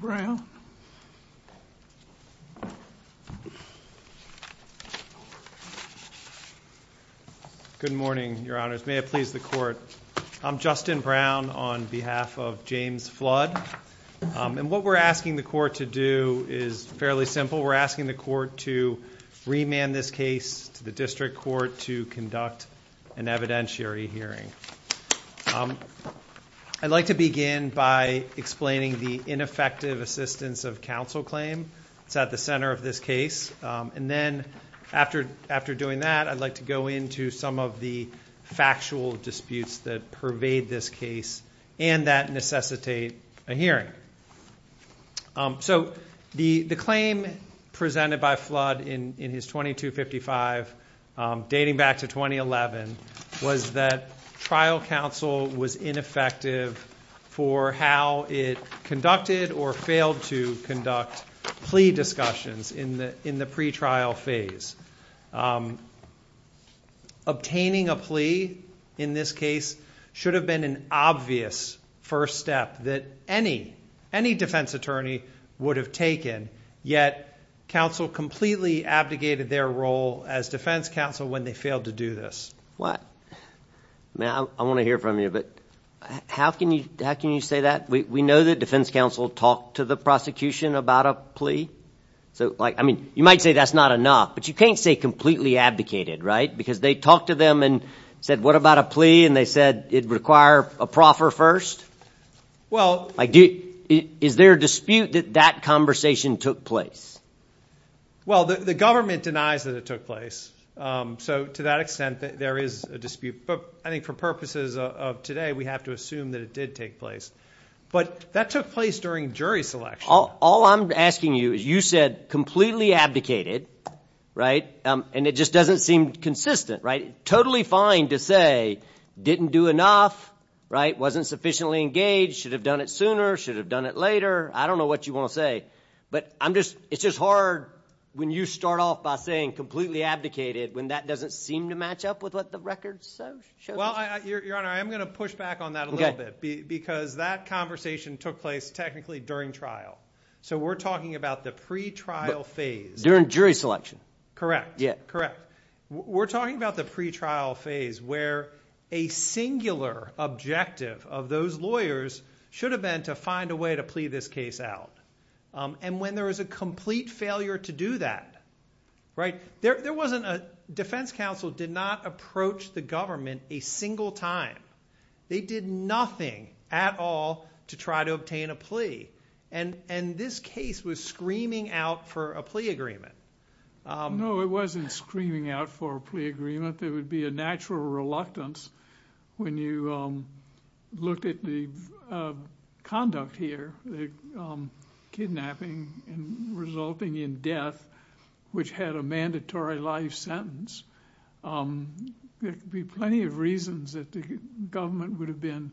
Good morning, Your Honors. May it please the Court. I'm Justin Brown on behalf of James Flood, and what we're asking the Court to do is fairly simple. We're asking the Court to remand this case to the District Court to conduct an evidentiary hearing. I'd like to begin by explaining the ineffective assistance of counsel claim. It's at the center of this case. And then after doing that, I'd like to go into some of the factual disputes that pervade this case and that necessitate a hearing. So the claim presented by Flood in his 2255, dating back to 2011, was that trial counsel was ineffective for how it conducted or failed to conduct plea discussions in the pretrial phase. Obtaining a plea in this case should have been an obvious first step that any defense attorney would have taken, yet counsel completely abdicated their role as defense counsel when they failed to do this. What? I want to hear from you, but how can you say that? We know that defense counsel talked to the prosecution about a plea. You might say that's not enough, but you can't say completely abdicated, right? Because they talked to them and said, what about a plea? And they said it'd require a proffer first? Is there a dispute that that conversation took place? Well, the government denies that it took place. So to that extent, there is a dispute. But I think for purposes of today, we have to assume that it did take place. But that took place during jury selection. All I'm asking you is you said completely abdicated, right? And it just doesn't seem consistent, right? Totally fine to say didn't do enough, right? Wasn't sufficiently engaged, should have done it sooner, should have done it later. I don't know what you want to say. But I'm just, it's just hard when you start off by saying completely abdicated when that doesn't seem to match up with what the records show. Well, Your Honor, I am going to push back on that a little bit because that conversation took place technically during trial. So we're talking about the pre-trial phase. During jury selection. Correct. Correct. We're talking about the pre-trial phase where a singular objective of those lawyers should have been to find a way to plea this case out. And when there is a complete failure to do that, right? There wasn't a defense counsel did not approach the government a single time. They did nothing at all to try to obtain a plea. And this case was screaming out for a plea agreement. No, it wasn't screaming out for a plea agreement. There would be a natural reluctance when you looked at the conduct here, the kidnapping and resulting in death, which had a mandatory life sentence. There could be plenty of reasons that the government would have been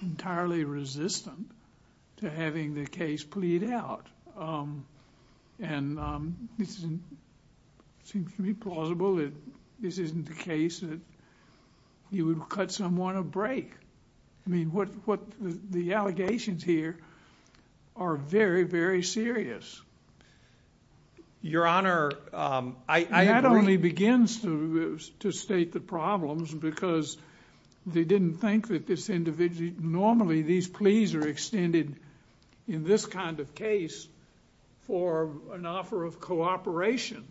entirely resistant to having the case plead out. And this seems to be plausible. This isn't the case that you would cut someone a break. I mean, what the allegations here are very, very serious. Your Honor, I agree. That only begins to state the problems because they didn't think that this individual, normally these pleas are extended in this kind of case for an offer of cooperation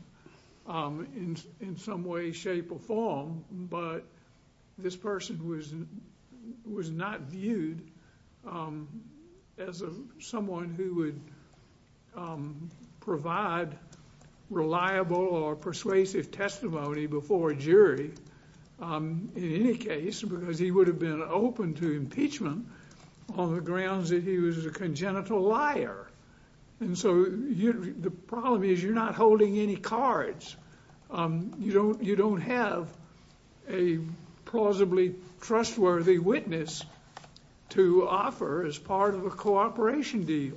in some way, shape or form. But this person was not viewed as someone who would provide reliable or persuasive testimony before a jury. Um, in any case, because he would have been open to impeachment on the grounds that he was a congenital liar. And so the problem is you're not holding any cards. You don't. You don't have a plausibly trustworthy witness to offer as part of a cooperation deal.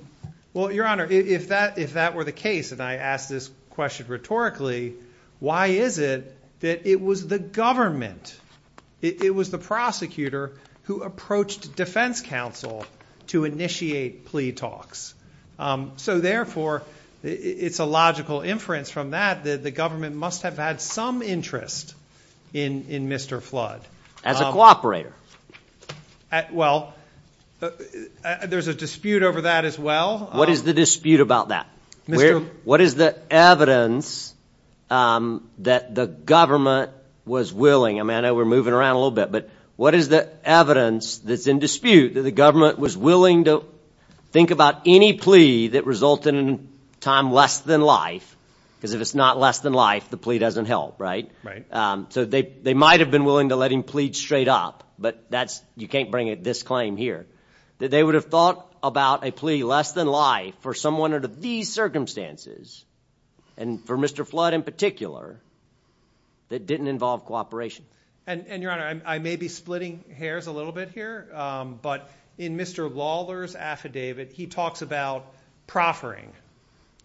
Well, Your Honor, if that if that were the case, and I asked this question rhetorically, why is it that it was the government? It was the prosecutor who approached Defense Council to initiate plea talks. So therefore, it's a logical inference from that the government must have had some interest in Mr. Flood as a cooperator. Well, there's a dispute over that as well. What is the dispute about that? What is the evidence that the government was willing? I mean, I know we're moving around a little bit, but what is the evidence that's in dispute that the government was willing to think about any plea that resulted in time less than life? Because if it's not less than life, the plea doesn't help. Right, right. So they they might have been willing to let him plead straight up. But that's you can't bring it. This claim here that they would have thought about a plea less than life for someone out of these circumstances. And for Mr. Flood in particular, that didn't involve cooperation. And Your Honor, I may be splitting hairs a little bit here. But in Mr. Lawler's affidavit, he talks about proffering.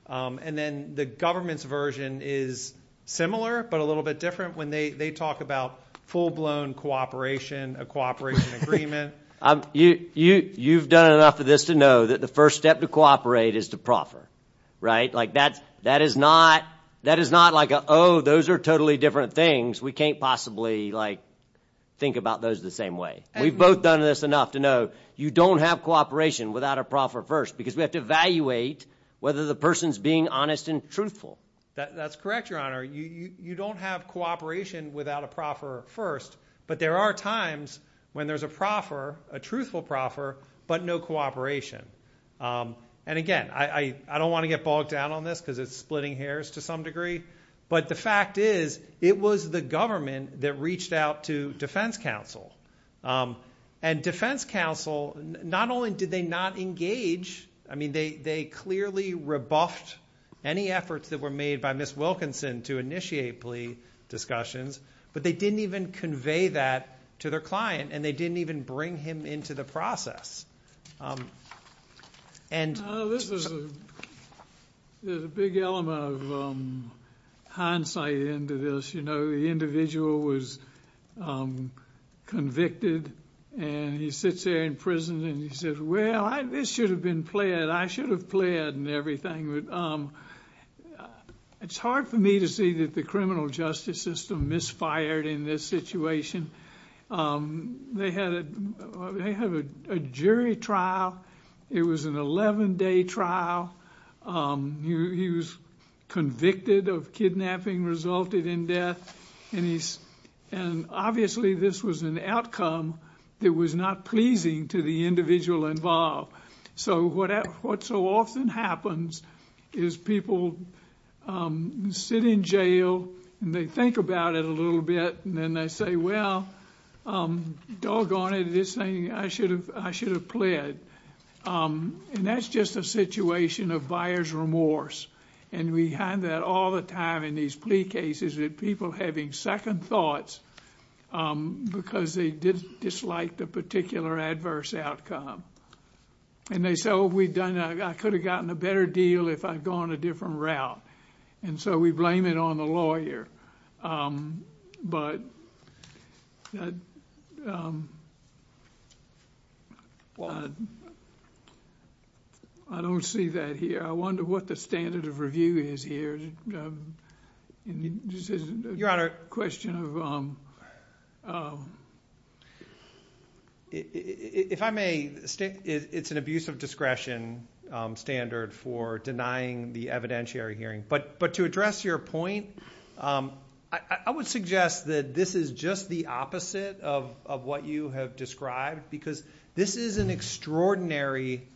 And then the government's version is similar but a little bit different when they talk about full blown cooperation, a cooperation agreement. You've done enough of this to know that the first step to cooperate is to proffer, right? Like that. That is not that is not like, oh, those are totally different things. We can't possibly like think about those the same way. We've both done this enough to know you don't have cooperation without a proffer first because we have to evaluate whether the person's being honest and truthful. That's correct, Your Honor. You don't have cooperation without a proffer first. But there are times when there's a proffer, a truthful proffer, but no cooperation. And again, I don't want to get bogged down on this because it's splitting hairs to some degree. But the fact is, it was the government that reached out to Defense Counsel. Not only did they not engage, I mean, they clearly rebuffed any efforts that were made by Ms. Wilkinson to initiate plea discussions, but they didn't even convey that to their client and they didn't even bring him into the process. And this is a big element of hindsight into this. You know, the individual was convicted and he sits there in prison and he says, well, this should have been pled. I should have pled and everything. It's hard for me to see that the criminal justice system misfired in this situation. They had a jury trial. It was an 11-day trial. He was convicted of kidnapping, resulted in death, and obviously this was an outcome that was not pleasing to the individual involved. So what so often happens is people sit in jail and they think about it a little bit and then they say, well, doggone it, this thing, I should have pled. And that's just a situation of buyer's remorse. And we find that all the time in these plea cases that people having second thoughts because they dislike the particular adverse outcome. And they say, oh, we've done that. I could have gotten a better deal if I'd gone a different route. And so we blame it on the lawyer. But I don't see that here. I wonder what the standard of review is here. This is a question of... It's an abuse of discretion standard for denying the evidentiary hearing. But to address your point, I would suggest that this is just the opposite of what you have described because this is an extraordinary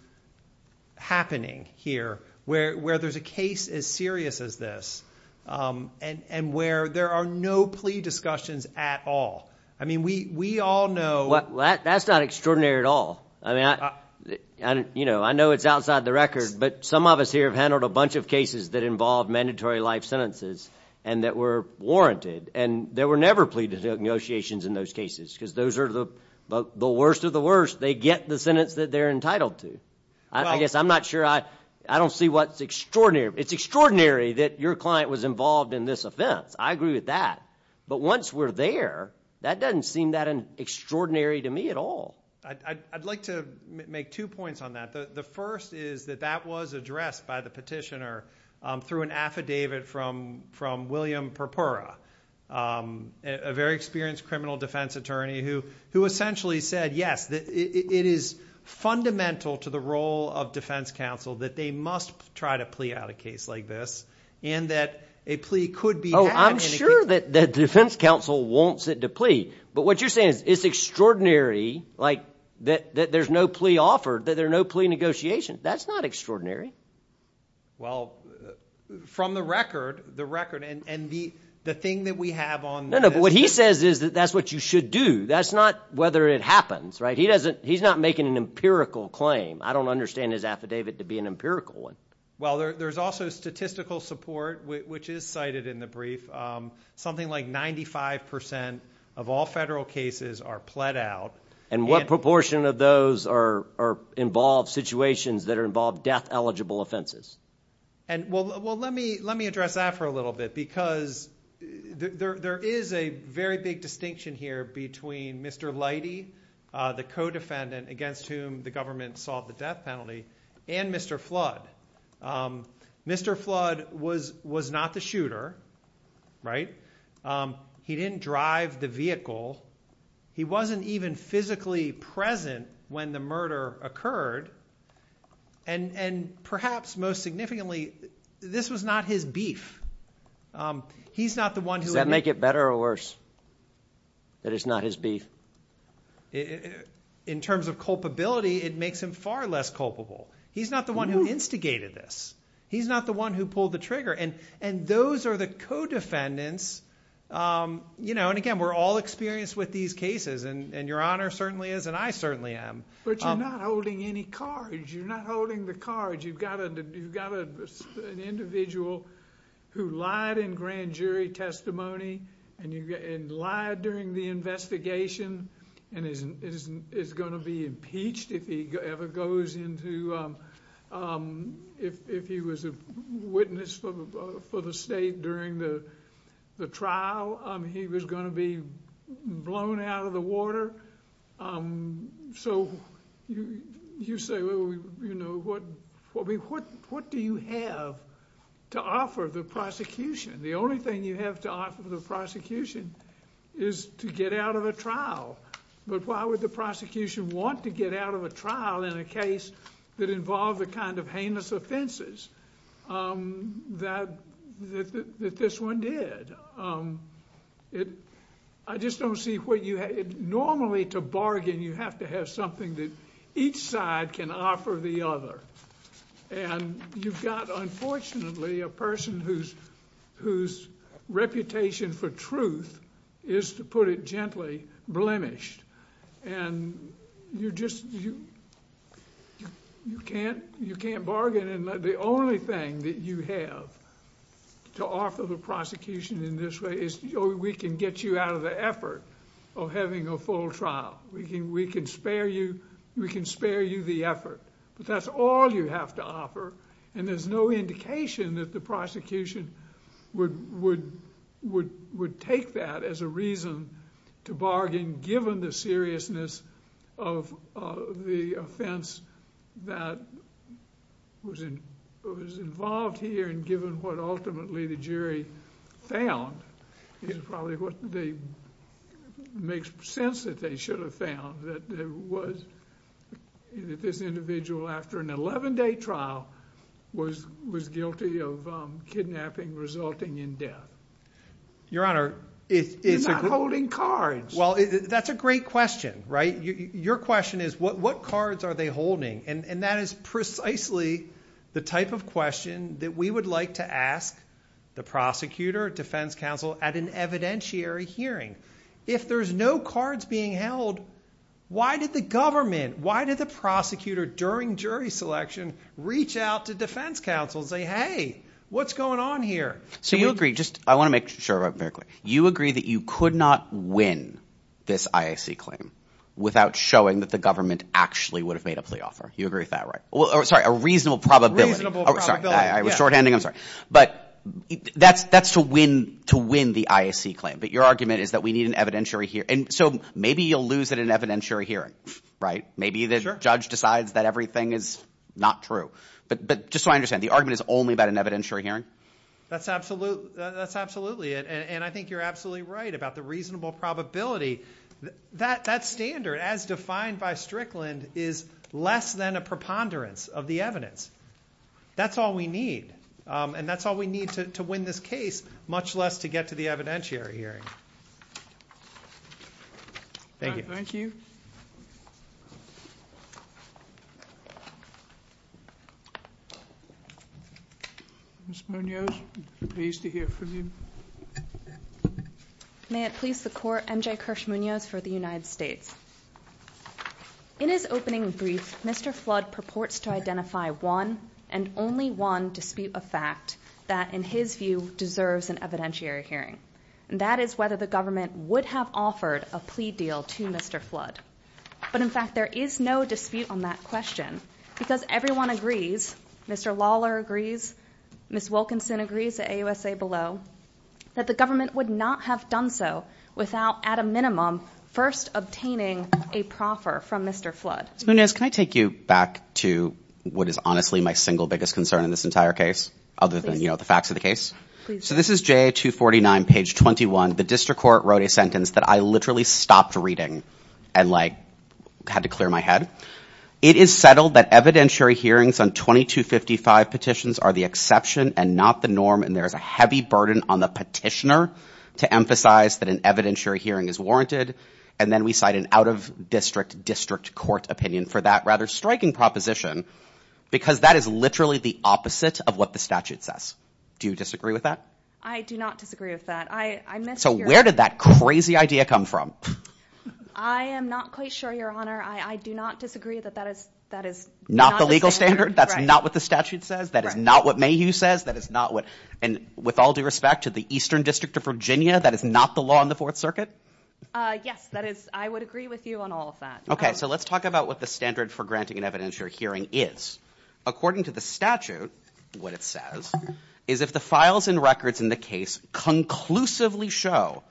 happening here where there's a case as serious as this and where there are no plea discussions at all. I mean, we all know... Well, that's not extraordinary at all. I mean, I know it's outside the record, but some of us here have handled a bunch of cases that involve mandatory life sentences and that were warranted. And there were never plea negotiations in those cases because those are the worst of the worst. They get the sentence that they're entitled to. I guess I'm not sure I... I don't see what's extraordinary. It's extraordinary that your client was involved in this offense. I agree with that. But once we're there, that doesn't seem that extraordinary to me at all. I'd like to make two points on that. The first is that that was addressed by the petitioner through an affidavit from William Purpura, a very experienced criminal defense attorney who essentially said, yes, it is fundamental to the role of defense counsel that they must try to plea out a case like this and that a plea could be... Oh, I'm sure that the defense counsel won't sit to plea. But what you're saying is it's extraordinary that there's no plea offered, that there are no plea negotiations. That's not extraordinary. Well, from the record, the record and the thing that we have on... No, no, but what he says is that that's what you should do. That's not whether it happens, right? He doesn't... he's not making an empirical claim. I don't understand his affidavit to be an empirical one. Well, there's also statistical support, which is cited in the brief. Something like 95% of all federal cases are pled out. And what proportion of those involve situations that involve death-eligible offenses? Well, let me address that for a little bit because there is a very big distinction here between Mr. Lighty, the co-defendant against whom the government sought the death penalty, and Mr. Flood. Mr. Flood was not the shooter, right? He didn't drive the vehicle. He wasn't even physically present when the murder occurred. And perhaps most significantly, this was not his beef. He's not the one who... Does that make it better or worse that it's not his beef? In terms of culpability, it makes him far less culpable. He's not the one who instigated this. He's not the one who pulled the trigger. And those are the co-defendants. And again, we're all experienced with these cases, and Your Honor certainly is, and I certainly am. But you're not holding any cards. You're not holding the cards. You've got an individual who lied in grand jury testimony and lied during the investigation and is going to be impeached if he ever goes into... if he was a witness for the state during the trial. He was going to be blown out of the water. So you say, well, what do you have to offer the prosecution? The only thing you have to offer the prosecution is to get out of a trial. But why would the prosecution want to get out of a trial in a case that involved the kind of heinous offenses that this one did? I just don't see what you... normally to bargain, you have to have something that each side can offer the other. And you've got, unfortunately, a person whose reputation for truth is, to put it gently, blemished. And you just... you can't bargain and the only thing that you have to offer the prosecution in this way is, oh, we can get you out of the effort of having a full trial. We can spare you the effort. But that's all you have to offer, and there's no indication that the prosecution would take that as a reason to the seriousness of the offense that was involved here and given what ultimately the jury found. It probably makes sense that they should have found that there was... that this individual after an 11-day trial was guilty of kidnapping resulting in death. Your Honor, it's... He's not holding cards. Well, that's a great question, right? Your question is, what cards are they holding? And that is precisely the type of question that we would like to ask the prosecutor, defense counsel, at an evidentiary hearing. If there's no cards being held, why did the government, why did the prosecutor during jury selection reach out to defense counsel and say, hey, what's going on here? So you agree... I want to make sure I'm very clear. You agree that you could not win this IAC claim without showing that the government actually would have made a plea offer. You agree with that, right? Sorry, a reasonable probability. Reasonable probability. I was shorthanding. I'm sorry. But that's to win the IAC claim. But your argument is that we need an evidentiary hearing. So maybe you'll lose at an evidentiary hearing, right? Maybe the judge decides that everything is not true. But just so I understand, the argument is only about an evidentiary hearing? That's absolutely it. And I think you're absolutely right about the reasonable probability. That standard, as defined by Strickland, is less than a preponderance of the evidence. That's all we need. And that's all we need to win this case, much less to get to the evidentiary hearing. Thank you. Thank you. Ms. Munoz, pleased to hear from you. May it please the Court, MJ Kirsch Munoz for the United States. In his opening brief, Mr. Flood purports to identify one and only one dispute of fact that, in his view, deserves an evidentiary hearing. And that is whether the government would have offered a plea deal to Mr. Flood. But in fact, there is no dispute on that question. Because everyone agrees, Mr. Lawler agrees, Ms. Wilkinson agrees, the AUSA below, that the government would not have done so without, at a minimum, first obtaining a proffer from Mr. Flood. Ms. Munoz, can I take you back to what is honestly my single biggest concern in this entire case, other than, you know, the facts of the case? So this is JA 249, page 21. The district court wrote a sentence that I literally stopped reading and, like, had to clear my head. It is settled that evidentiary hearings on 2255 petitions are the exception and not the norm, and there is a heavy burden on the petitioner to emphasize that an evidentiary hearing is warranted. And then we cite an out-of-district district court opinion for that rather striking proposition, because that is literally the opposite of what the statute says. Do you disagree with that? I do not disagree with that. I miss your... So where did that crazy idea come from? I am not quite sure, Your Honor. I do not disagree that that is... Not the legal standard? That's not what the statute says? That is not what Mayhew says? That is not what... And with all due respect to the Eastern District of Virginia, that is not the law in the Fourth Circuit? Yes, that is... I would agree with you on all of that. Okay, so let's talk about what the standard for granting an evidentiary hearing is. According to the statute, what it says is if the files and records in the case conclusively show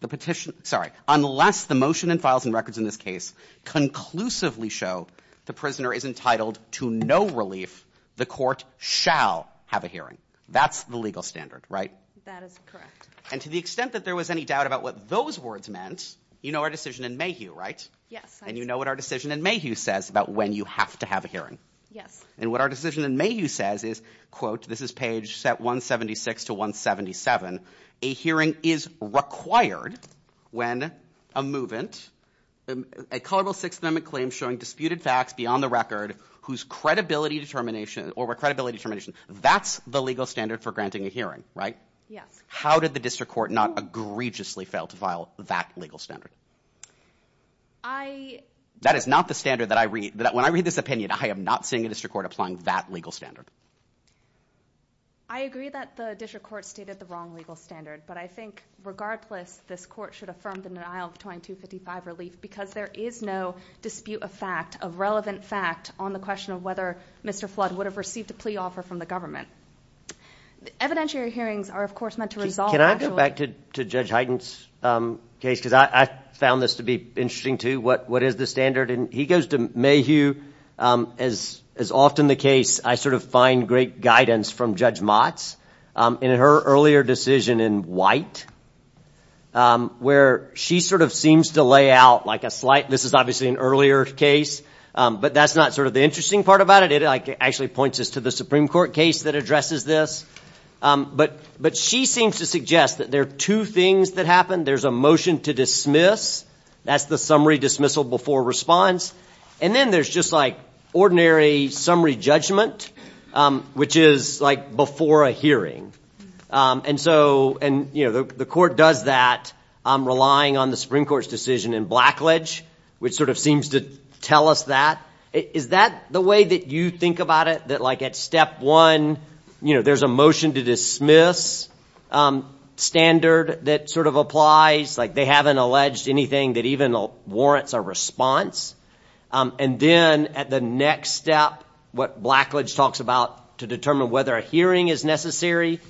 the petition... Sorry, unless the motion and files and records in this case conclusively show the prisoner is entitled to no relief, the court shall have a hearing. That's the legal standard, right? That is correct. And to the extent that there was any doubt about what those words meant, you know our decision in Mayhew, right? Yes, I do. And you know what our decision in Mayhew says about when you have to have a hearing? Yes. And what our decision in Mayhew says is, quote, this is page 176 to 177, a hearing is required when a movant, a colorable Sixth Amendment claim showing disputed facts beyond the record whose credibility determination or credibility determination, that's the legal standard for granting a hearing, right? Yes. How did the district court not egregiously fail to file that legal standard? I... That is not the standard that I read that when I read this opinion, I am not seeing a district court applying that legal standard. I agree that the district court stated the wrong legal standard, but I think regardless, this court should affirm the denial of 2255 relief because there is no dispute of fact of relevant fact on the question of whether Mr. Flood would have received a plea offer from the government. Evidentiary hearings are, of course, meant to resolve... Judge Heiden's case, because I found this to be interesting too, what is the standard? And he goes to Mayhew, as often the case, I sort of find great guidance from Judge Motz in her earlier decision in White, where she sort of seems to lay out like a slight... This is obviously an earlier case, but that's not sort of the interesting part about it. It actually points us to the Supreme Court case that addresses this. But she seems to suggest that there are two things that happen. There's a motion to dismiss. That's the summary dismissal before response. And then there's just like ordinary summary judgment, which is like before a hearing. And the court does that relying on the Supreme Court's decision in Blackledge, which sort of seems to tell us that. Is that the way that you think about it? Like at step one, there's a motion to dismiss standard that sort of applies, like they haven't alleged anything that even warrants a response. And then at the next step, what Blackledge talks about to determine whether a hearing is necessary,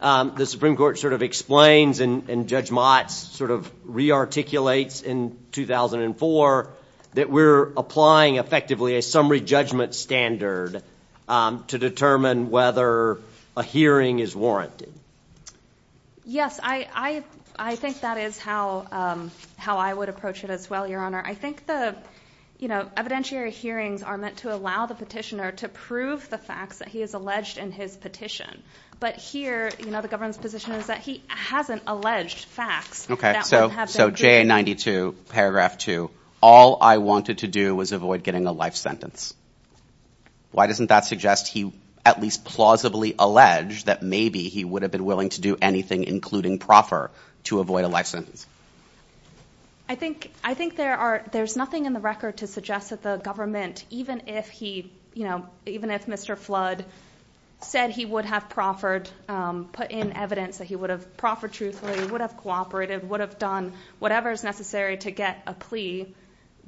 the Supreme Court sort of explains and Judge Motz sort of re-articulates in 2004 that we're applying effectively a summary judgment standard to determine whether a hearing is warranted. Yes, I think that is how I would approach it as well, Your Honor. I think the evidentiary hearings are meant to allow the petitioner to prove the facts that he has alleged in his petition. But here, the government's position is that he hasn't alleged facts. Okay, so JA 92, paragraph two, all I wanted to do was avoid getting a life sentence. Why doesn't that suggest he at least plausibly alleged that maybe he would have been willing to do anything, including proffer to avoid a life sentence? I think there's nothing in the record to suggest that the government, even if he, you know, even if Mr. Flood said he would have proffered, put in evidence that he would have proffered truthfully, would have cooperated, would have done whatever is necessary to get a plea.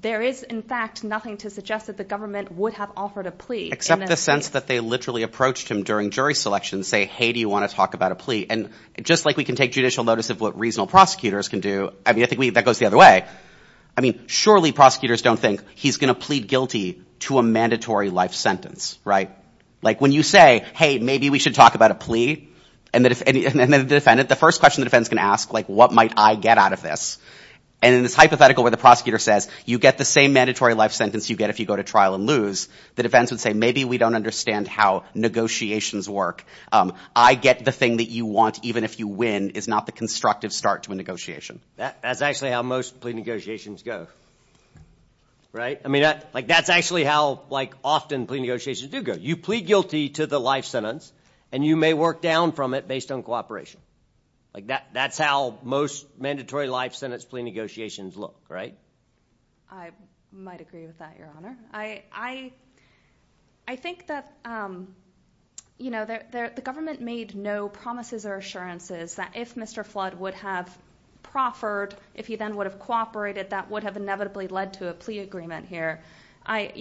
There is, in fact, nothing to suggest that the government would have offered a plea. Except the sense that they literally approached him during jury selection, say, hey, do you want to talk about a plea? And just like we can take judicial notice of what reasonable prosecutors can do. I mean, I think that goes the other way. I mean, surely prosecutors don't think he's going to plead guilty to a mandatory life sentence, right? Like when you say, hey, maybe we should talk about a plea. And then the defendant, the first question the defense can ask, like, what might I get out of this? And in this hypothetical where the prosecutor says, you get the same mandatory life sentence you get if you go to trial and lose, the defense would say, maybe we don't understand how negotiations work. I get the thing that you want even if you win is not the constructive start to a negotiation. That's actually how most plea negotiations go, right? I mean, like that's actually how, like, often plea negotiations do go. You plead guilty to the life sentence and you may work down from it based on cooperation. Like that's how most mandatory life sentence plea negotiations look, right? I might agree with that, Your Honor. I think that, you know, the government made no promises or assurances that if Mr. Flood would have proffered, if he then would have cooperated, that would have inevitably led to a plea agreement here. Not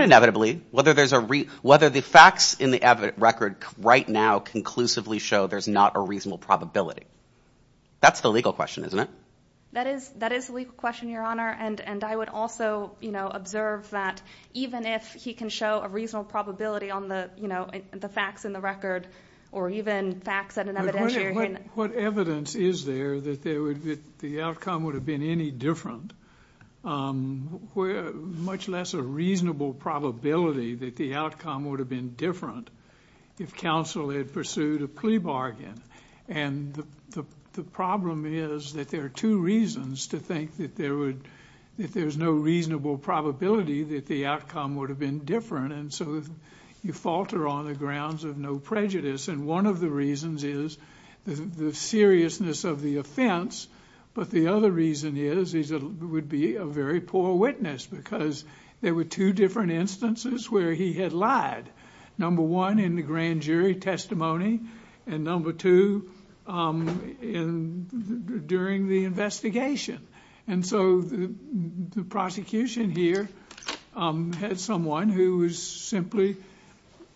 inevitably. Whether the facts in the record right now conclusively show there's not a reasonable probability. That's the legal question, isn't it? That is, that is the legal question, Your Honor. And I would also, you know, observe that even if he can show a reasonable probability on the, you know, the facts in the record or even facts that are evidential. What evidence is there that the outcome would have been any different? Much less a reasonable probability that the outcome would have been different if counsel had pursued a plea bargain. And the problem is that there are two reasons to think that there would, that there's no reasonable probability that the outcome would have been different. And so you falter on the grounds of no prejudice. And one of the reasons is the seriousness of the offense. But the other reason is, is it would be a very poor witness because there were two different instances where he had lied. Number one, in the grand jury testimony. And number two, during the investigation. And so the prosecution here had someone who was simply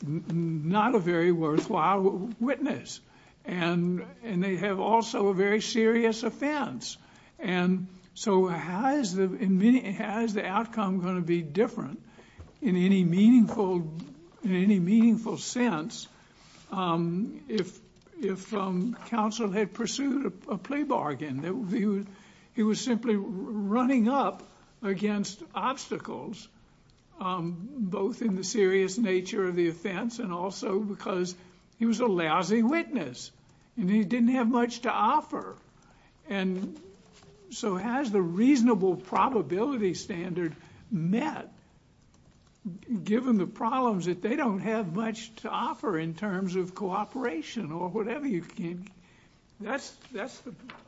not a very worthwhile witness. And they have also a very serious offense. And so how is the outcome going to be different in any meaningful sense if counsel had pursued a plea bargain? He was simply running up against obstacles, both in the serious nature of the offense and also because he was a lousy witness and he didn't have much to offer. And so has the reasonable probability standard met, given the problems that they don't have much to offer in terms of cooperation or whatever you can, that's, that's,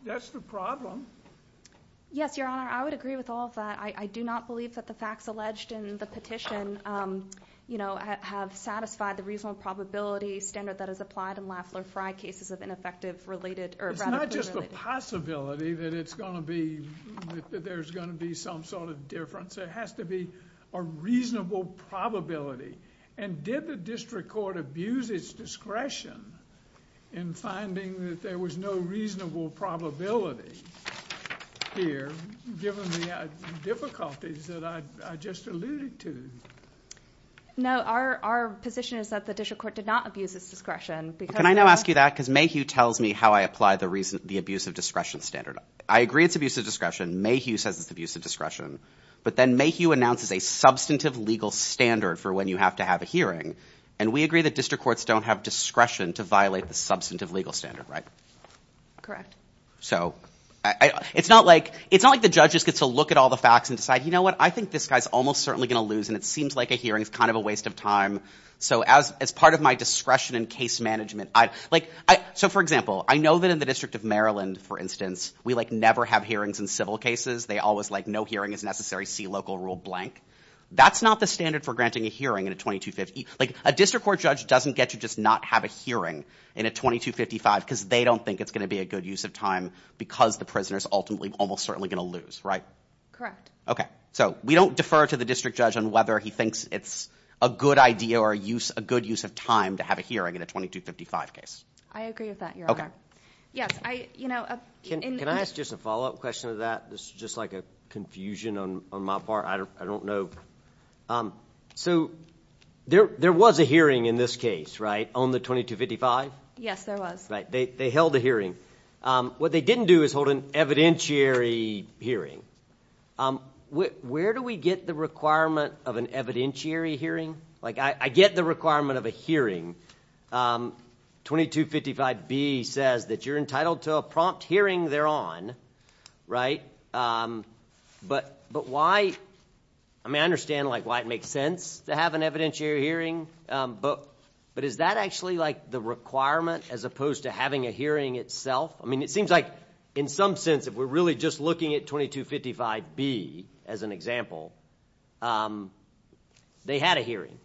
that's the problem. Yes, Your Honor, I would agree with all of that. I do not believe that the facts alleged in the petition, you know, have satisfied the reasonable probability standard that is applied in Lafler-Frye cases of ineffective related, It's not just a possibility that it's going to be, there's going to be some sort of difference. It has to be a reasonable probability. And did the district court abuse its discretion in finding that there was no reasonable probability here, given the difficulties that I just alluded to? No, our position is that the district court did not abuse its discretion. Can I now ask you that? Because Mayhew tells me how I apply the reason, the abuse of discretion standard. I agree it's abuse of discretion. Mayhew says it's abuse of discretion, but then Mayhew announces a substantive legal standard for when you have to have a hearing. And we agree that district courts don't have discretion to violate the substantive legal standard, right? Correct. So it's not like, it's not like the judges get to look at all the facts and decide, you know what, I think this guy's almost certainly going to lose. And it seems like a hearing is kind of a waste of time. So as part of my discretion in case management, so for example, I know that in the District of Maryland, for instance, we like never have hearings in civil cases. They always like no hearing is necessary, see local rule blank. That's not the standard for granting a hearing in a 2250. Like a district court judge doesn't get to just not have a hearing in a 2255 because they don't think it's going to be a good use of time because the prisoner's ultimately almost certainly going to lose, right? Correct. Okay. So we don't defer to the district judge on whether he thinks it's a good idea or a use, a good use of time to have a hearing in a 2255 case. I agree with that, Your Honor. Okay. Yes. Can I ask just a follow-up question to that? This is just like a confusion on my part. I don't know. So there was a hearing in this case, right? On the 2255? Yes, there was. Right. They held a hearing. What they didn't do is hold an evidentiary hearing. Where do we get the requirement of an evidentiary hearing? Like I get the requirement of a hearing. 2255B says that you're entitled to a prompt hearing thereon, right? But why? I mean, I understand like why it makes sense to have an evidentiary hearing, but is that actually like the requirement as opposed to having a hearing itself? I mean, it seems like in some sense, if we're really just looking at 2255B as an example, they had a hearing.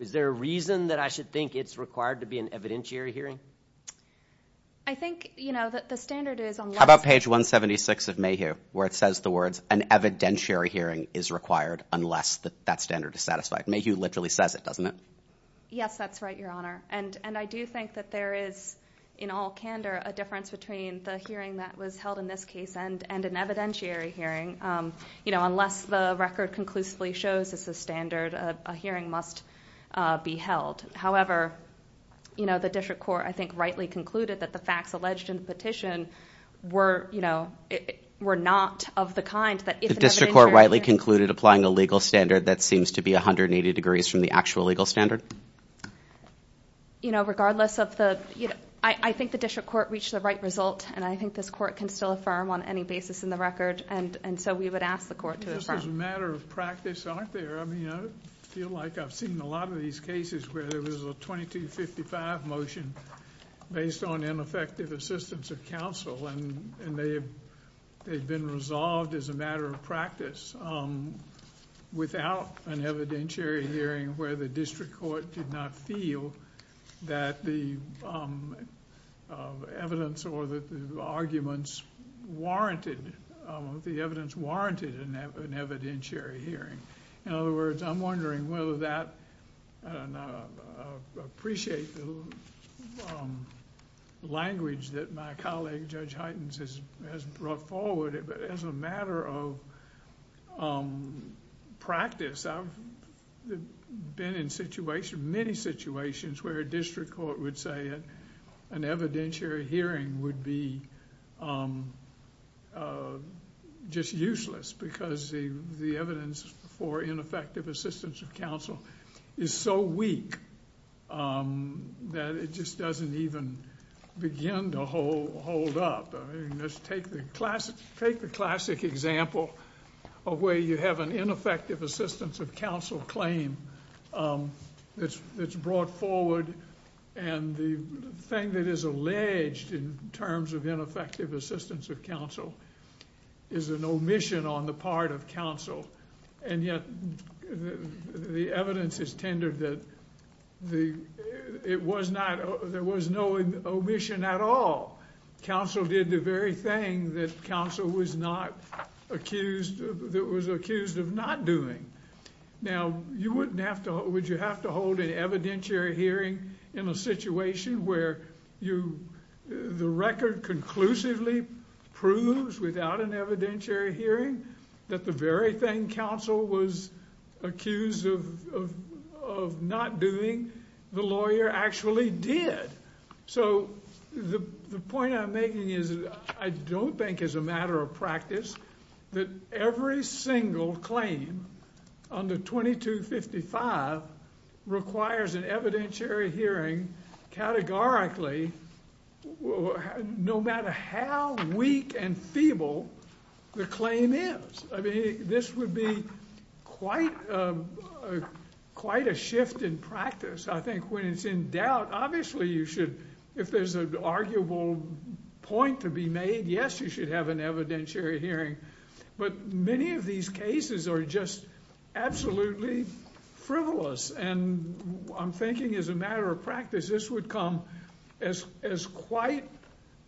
Is there a reason that I should think it's required to be an evidentiary hearing? I think, you know, that the standard is- How about page 176 of Mayhew, where it says the words, an evidentiary hearing is required unless that standard is satisfied. Mayhew literally says it, doesn't it? Yes, that's right, Your Honor. And I do think that there is, in all candor, a difference between the hearing that was held in this case and an evidentiary hearing. You know, unless the record conclusively shows this is standard, a hearing must be held. However, you know, the district court, I think, rightly concluded that the facts alleged in the petition were, you know, were not of the kind that- The district court rightly concluded applying a legal standard that seems to be 180 degrees from the actual legal standard? You know, regardless of the, you know, I think the district court reached the right result, and I think this court can still affirm on any basis in the record, and so we would ask the court to affirm. Just as a matter of practice, aren't there? I mean, I feel like I've seen a lot of these cases where there was a 2255 motion based on ineffective assistance of counsel, and they've been resolved as a matter of practice without an evidentiary hearing where the district court did not feel that the evidence or the arguments warranted, the evidence warranted an evidentiary hearing. In other words, I'm wondering whether that, and I appreciate the language that my colleague, Judge Heitens, has brought forward, but as a matter of practice, I've been in situations, many situations where a district court would say an evidentiary hearing would be just useless because the evidence for ineffective assistance of counsel is so weak that it just doesn't even begin to hold up. Let's take the classic example of where you have an ineffective assistance of counsel claim that's brought forward, and the thing that is alleged in terms of ineffective assistance of counsel is an omission on the part of counsel, and yet the evidence is tendered that it was not, there was no omission at all. Counsel did the very thing that counsel was not accused, that was accused of not doing. Now, you wouldn't have to, would you have to hold an evidentiary hearing in a situation where you, the record conclusively proves without an evidentiary hearing that the very thing counsel was accused of not doing, the lawyer actually did. So the point I'm making is I don't think as a matter of practice that every single claim under 2255 requires an evidentiary hearing categorically no matter how weak and feeble the claim is. I mean, this would be quite a shift in practice. I think when it's in doubt, obviously you should, if there's an arguable point to be made, yes, you should have an evidentiary hearing, but many of these cases are just absolutely frivolous, and I'm thinking as a matter of practice this would come as quite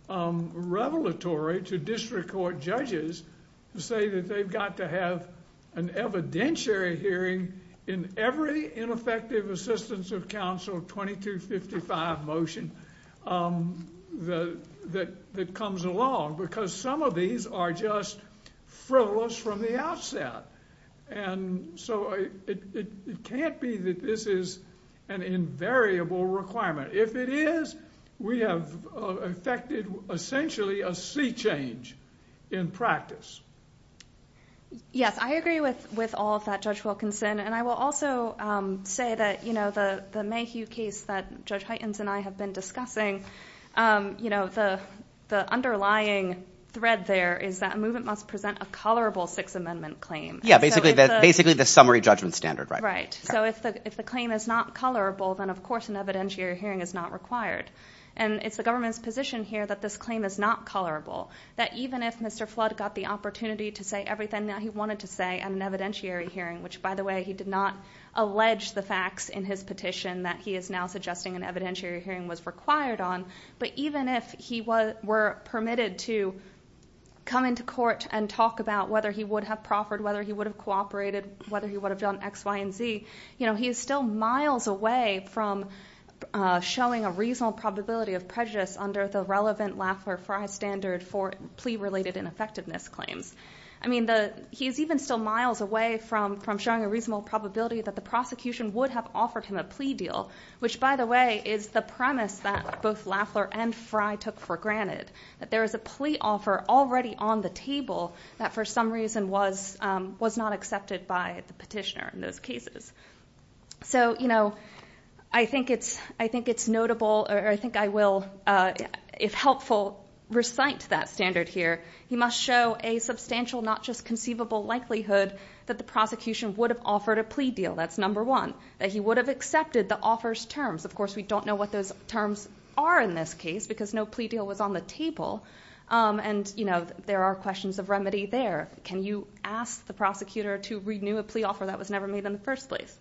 revelatory to district court judges to say that they've got to have an evidentiary hearing in every ineffective assistance of counsel 2255 motion that comes along, because some of these are just frivolous from the outset, and so it can't be that this is an invariable requirement. If it is, we have affected essentially a sea change in practice. Yes, I agree with all of that, Judge Wilkinson, and I will also say that, you know, the Mayhew case that Judge Heitens and I have been discussing, you know, the underlying thread there is that a movement must present a colorable Sixth Amendment claim. Yeah, basically the summary judgment standard, right? Right, so if the claim is not colorable, then of course an evidentiary hearing is not required, and it's the government's position here that this claim is not colorable, that even if Mr. Flood got the opportunity to say everything that he wanted to say at an suggesting an evidentiary hearing was required on, but even if he were permitted to come into court and talk about whether he would have proffered, whether he would have cooperated, whether he would have done X, Y, and Z, you know, he is still miles away from showing a reasonable probability of prejudice under the relevant Lafleur-Frey standard for plea-related ineffectiveness claims. I mean, he's even still miles away from showing a reasonable probability that the prosecution would have offered him a plea deal, which, by the way, is the premise that both Lafleur and Frey took for granted, that there is a plea offer already on the table that for some reason was not accepted by the petitioner in those cases. So, you know, I think it's notable, or I think I will, if helpful, recite that standard here. He must show a substantial, not just conceivable, likelihood that the prosecution would have offered a plea deal, that's number one, that he would have accepted the offer's terms. Of course, we don't know what those terms are in this case, because no plea deal was on the table, and, you know, there are questions of remedy there. Can you ask the prosecutor to renew a plea offer that was never made in the first place?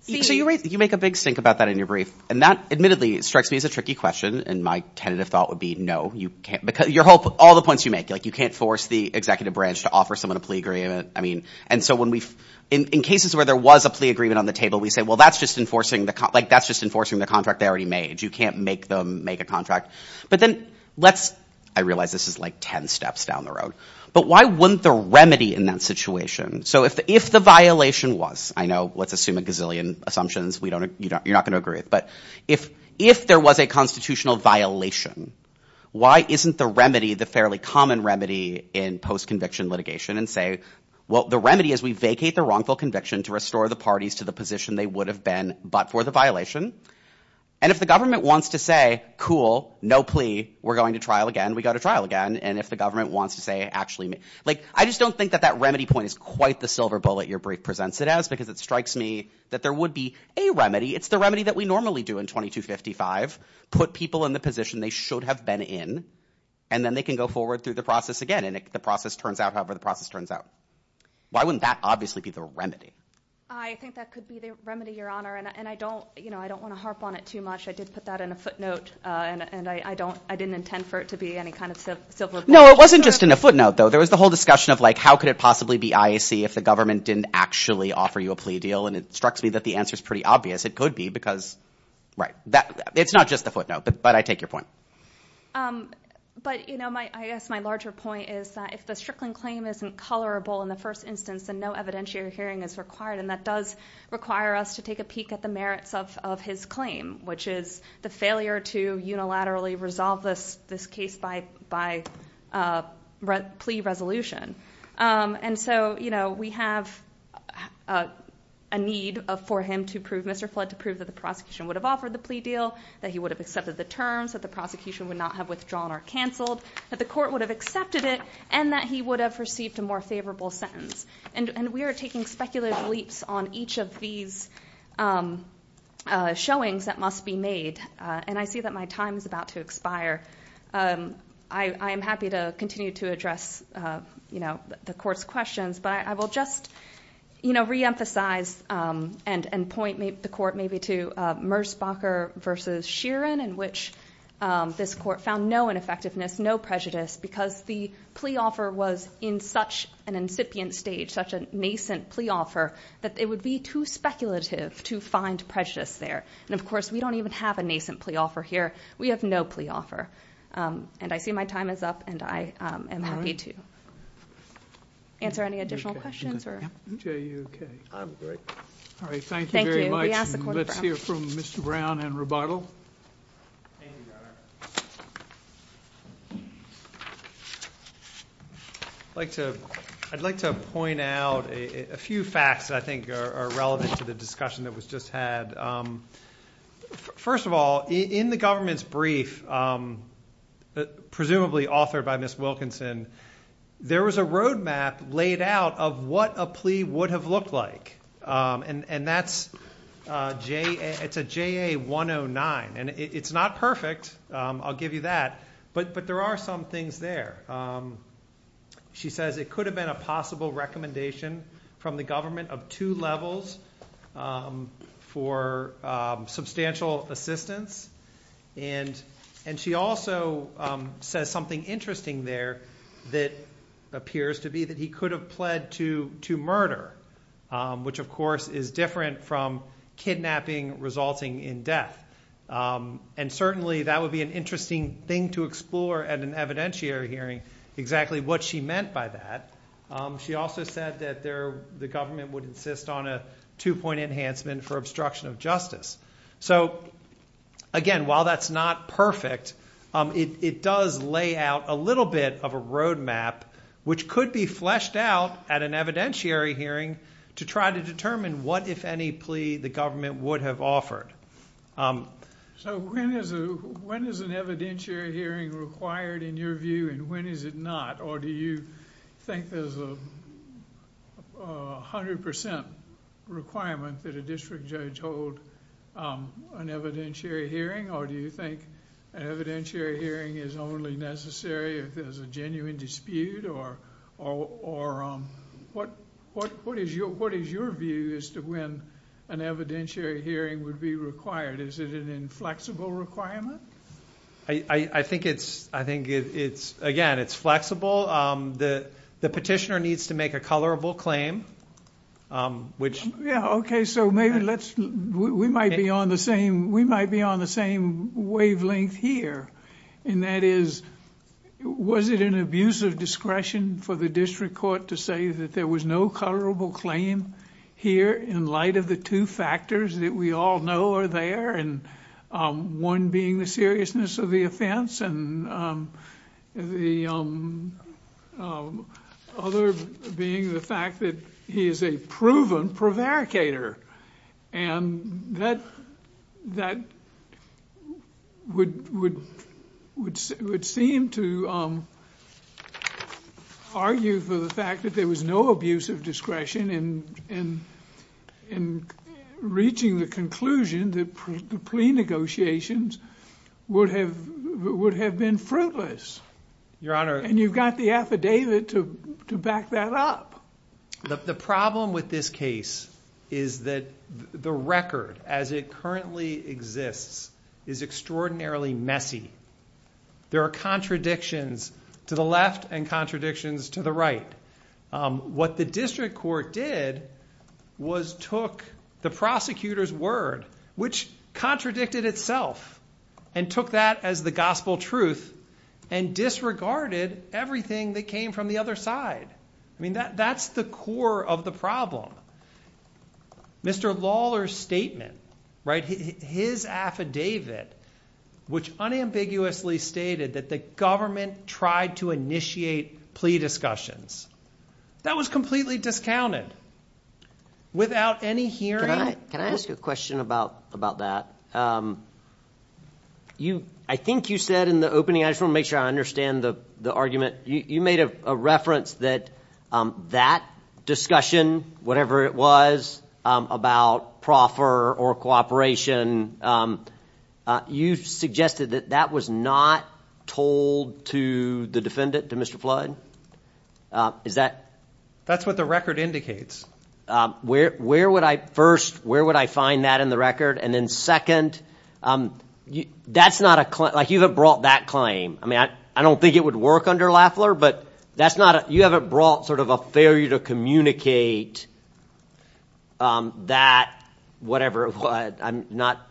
So you make a big stink about that in your brief, and that, admittedly, strikes me as a tricky question, and my tentative thought would be no, you can't, because your whole, all the points you make, like you can't force the executive branch to offer someone a plea agreement. I mean, and so when we've, in cases where there was a plea agreement on the table, we say, well, that's just enforcing the, like, that's just enforcing the contract they already made. You can't make them make a contract. But then let's, I realize this is like 10 steps down the road, but why wouldn't the remedy in that situation, so if the violation was, I know, let's assume a gazillion assumptions, we don't, you're not going to agree with, but if there was a constitutional violation, why isn't the remedy, the fairly common remedy in post-conviction litigation, and say, well, the remedy is we vacate the wrongful conviction to restore the parties to the position they would have been but for the violation, and if the government wants to say, cool, no plea, we're going to trial again, we go to trial again, and if the government wants to say, actually, like, I just don't think that that remedy point is quite the silver bullet your brief presents it as, because it strikes me that there would be a remedy. It's the remedy that we do in 2255, put people in the position they should have been in, and then they can go forward through the process again, and the process turns out however the process turns out. Why wouldn't that obviously be the remedy? I think that could be the remedy, Your Honor, and I don't, you know, I don't want to harp on it too much. I did put that in a footnote, and I don't, I didn't intend for it to be any kind of silver bullet. No, it wasn't just in a footnote, though. There was the whole discussion of, like, how could it possibly be IAC if the government didn't actually offer you a plea deal, and it strikes me that the answer is pretty obvious. It could be because, right, that, it's not just the footnote, but I take your point. But, you know, my, I guess my larger point is that if the Strickland claim isn't colorable in the first instance, then no evidentiary hearing is required, and that does require us to take a peek at the merits of his claim, which is the failure to unilaterally resolve this case by by plea resolution. And so, you know, we have a need for him to prove, Mr. Flood, to prove that the prosecution would have offered the plea deal, that he would have accepted the terms, that the prosecution would not have withdrawn or canceled, that the court would have accepted it, and that he would have received a more favorable sentence. And we are taking speculative leaps on each of these showings that must be made, and I see that my time is about to expire. I am happy to continue to address, you know, the court's questions, but I will just, you know, re-emphasize and point the court maybe to Merzbacher versus Sheeran, in which this court found no ineffectiveness, no prejudice, because the plea offer was in such an incipient stage, such a nascent plea offer, that it would be too speculative to find prejudice there. And, of course, we don't even have a nascent plea offer here. We have no plea offer. And I see my time is up, and I am happy to answer any additional questions. All right, thank you very much. Let's hear from Mr. Brown and Rubato. Thank you, Your Honor. I'd like to point out a few facts that I think are relevant to the discussion that was just had. First of all, in the government's brief, presumably authored by Ms. Wilkinson, there was a roadmap laid out of what a plea would have looked like. And that's a JA 109. And it's not perfect, I'll give you that, but there are some things there. She says it could have been a possible recommendation from the government of two levels for substantial assistance. And she also says something interesting there that appears to be he could have pled to murder, which, of course, is different from kidnapping resulting in death. And certainly, that would be an interesting thing to explore at an evidentiary hearing, exactly what she meant by that. She also said that the government would insist on a two-point enhancement for obstruction of justice. So, again, while that's not perfect, it does lay out a little bit of a roadmap, which could be fleshed out at an evidentiary hearing to try to determine what, if any, plea the government would have offered. So, when is an evidentiary hearing required, in your view, and when is it not? Or do you think there's a 100 percent requirement that a district judge hold an evidentiary hearing? Or do you think an evidentiary hearing is only necessary if there's a genuine dispute? Or what is your view as to when an evidentiary hearing would be required? Is it an inflexible requirement? I think it's, again, it's flexible. The petitioner needs to make a colorable claim, which... Yeah, okay. So, maybe let's, we might be on the same, we might be on the same wavelength here. And that is, was it an abuse of discretion for the district court to say that there was no colorable claim here in light of the two factors that we all know are there? And one being the seriousness of the offense, and the other being the fact that he is a proven prevaricator. And that would seem to argue for the fact that there was no abuse of discretion in reaching the conclusion that the plea negotiations would have been fruitless. Your Honor... And you've got the affidavit to back that up. The problem with this case is that the record as it currently exists is extraordinarily messy. There are contradictions to the left and contradictions to the right. What the district court did was took the prosecutor's word, which contradicted itself, and took that as the gospel truth, and disregarded everything that came from the other side. I mean, that's the core of the problem. Mr. Lawler's statement, right, his affidavit, which unambiguously stated that the government tried to initiate plea discussions, that was completely discounted. Without any hearing... I just want to make sure I understand the argument. You made a reference that that discussion, whatever it was, about proffer or cooperation, you suggested that that was not told to the defendant, to Mr. Flood? Is that... That's what the record indicates. First, where would I find that in the record? And then second, that's not a... like, you haven't brought that claim. I mean, I don't think it would work under Laffler, but that's not... you haven't brought sort of a failure to communicate that whatever... not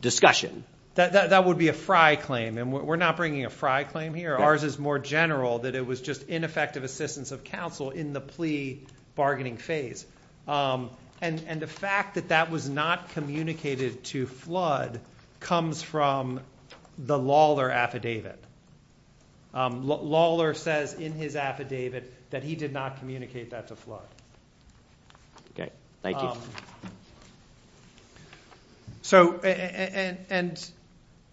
discussion. That would be a Frye claim, and we're not bringing a Frye claim here. Ours is more general, that it was just ineffective assistance of counsel in the plea bargaining phase. And the fact that that was not communicated to Flood comes from the Lawler affidavit. Lawler says in his affidavit that he did not communicate that to Flood. Okay, thank you. So, and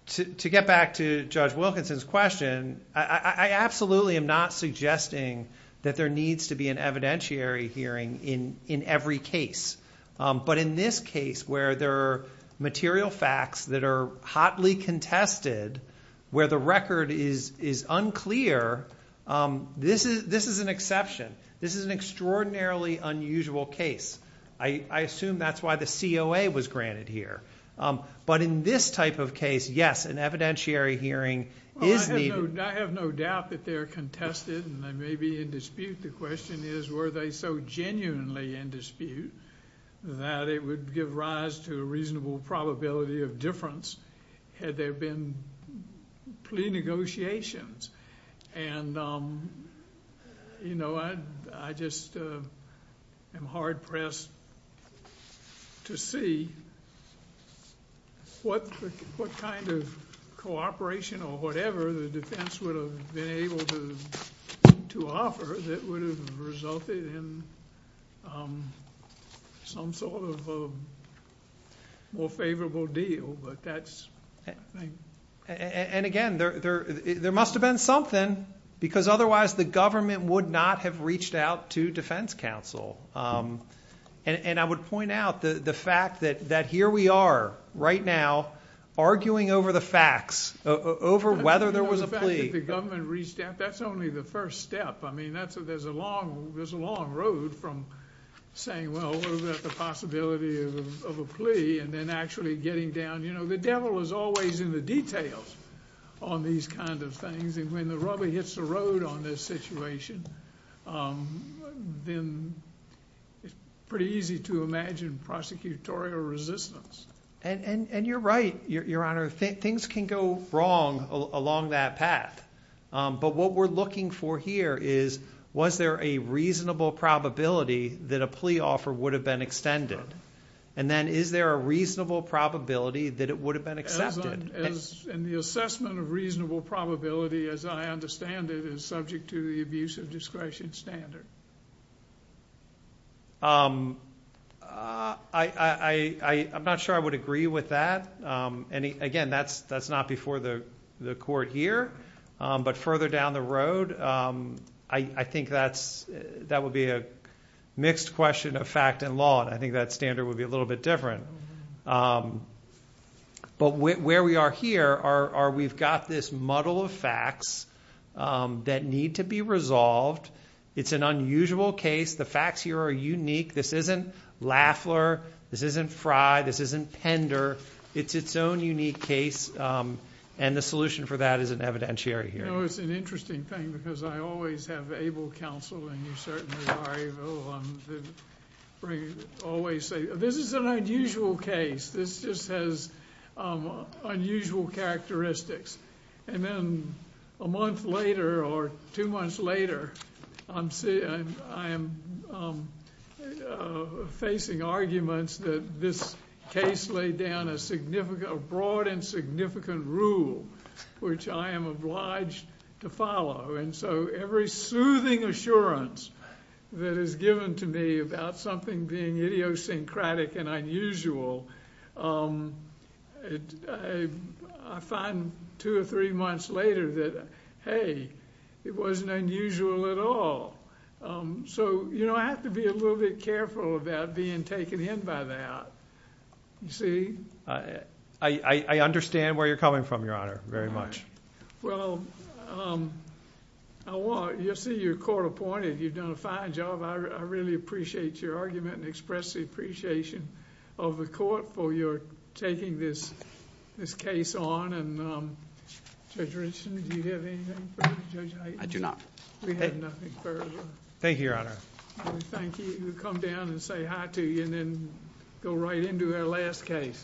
to get back to Judge Wilkinson's question, I absolutely am not suggesting that there needs to be an evidentiary hearing in every case. But in this case, where there are material facts that are hotly contested, where the record is unclear, this is an exception. This is an extraordinarily unusual case. I assume that's why the COA was granted here. But in this type of case, yes, an evidentiary hearing is needed. I have no doubt that they're contested and they may be in dispute. The question is, were they so genuinely in dispute that it would give rise to a reasonable probability of difference had there been plea negotiations? And, you know, I just am hard-pressed to see what kind of cooperation or whatever the defense would have been able to offer that would have resulted in some sort of a more favorable deal. But that's, I think. And again, there must have been something, because otherwise the government would not have reached out to defense counsel. And I would point out the fact that here we are, right now, arguing over the facts, over whether there was a plea. The fact that the government reached out, that's only the first step. I mean, there's a long road from saying, well, what about the possibility of a plea? And then actually getting down, you know, the devil is always in the details on these kinds of things. And when the rubber hits the road on this situation, then it's pretty easy to imagine prosecutorial resistance. And you're right, Your Honor. Things can go wrong along that path. But what we're looking for here is, was there a reasonable probability that a plea offer would have been extended? And then, is there a reasonable probability that it would have been accepted? And the assessment of reasonable probability, as I understand it, is subject to the abuse of discretion standard. I'm not sure I would agree with that. And again, that's not before the court here. But further down the road, I think that would be a mixed question of fact and law. And I think standard would be a little bit different. But where we are here are we've got this muddle of facts that need to be resolved. It's an unusual case. The facts here are unique. This isn't Lafler. This isn't Frye. This isn't Pender. It's its own unique case. And the solution for that is an evidentiary here. It's an interesting thing, because I always have able counsel, and you certainly are able. This is an unusual case. This just has unusual characteristics. And then a month later, or two months later, I'm facing arguments that this case laid down a broad and significant rule, which I am obliged to follow. And so every soothing assurance that is given to me about something being idiosyncratic and unusual, I find two or three months later that, hey, it wasn't unusual at all. So I have to be a little bit careful about being taken in by that. You see? I understand where you're coming from, Your Honor, very much. Well, you'll see you're court-appointed. You've done a fine job. I really appreciate your argument and express the appreciation of the court for your taking this case on. And Judge Richardson, do you have anything for Judge Hyten? I do not. We have nothing further. Thank you, Your Honor. Thank you. Come down and say hi to you, and then go right into our last case.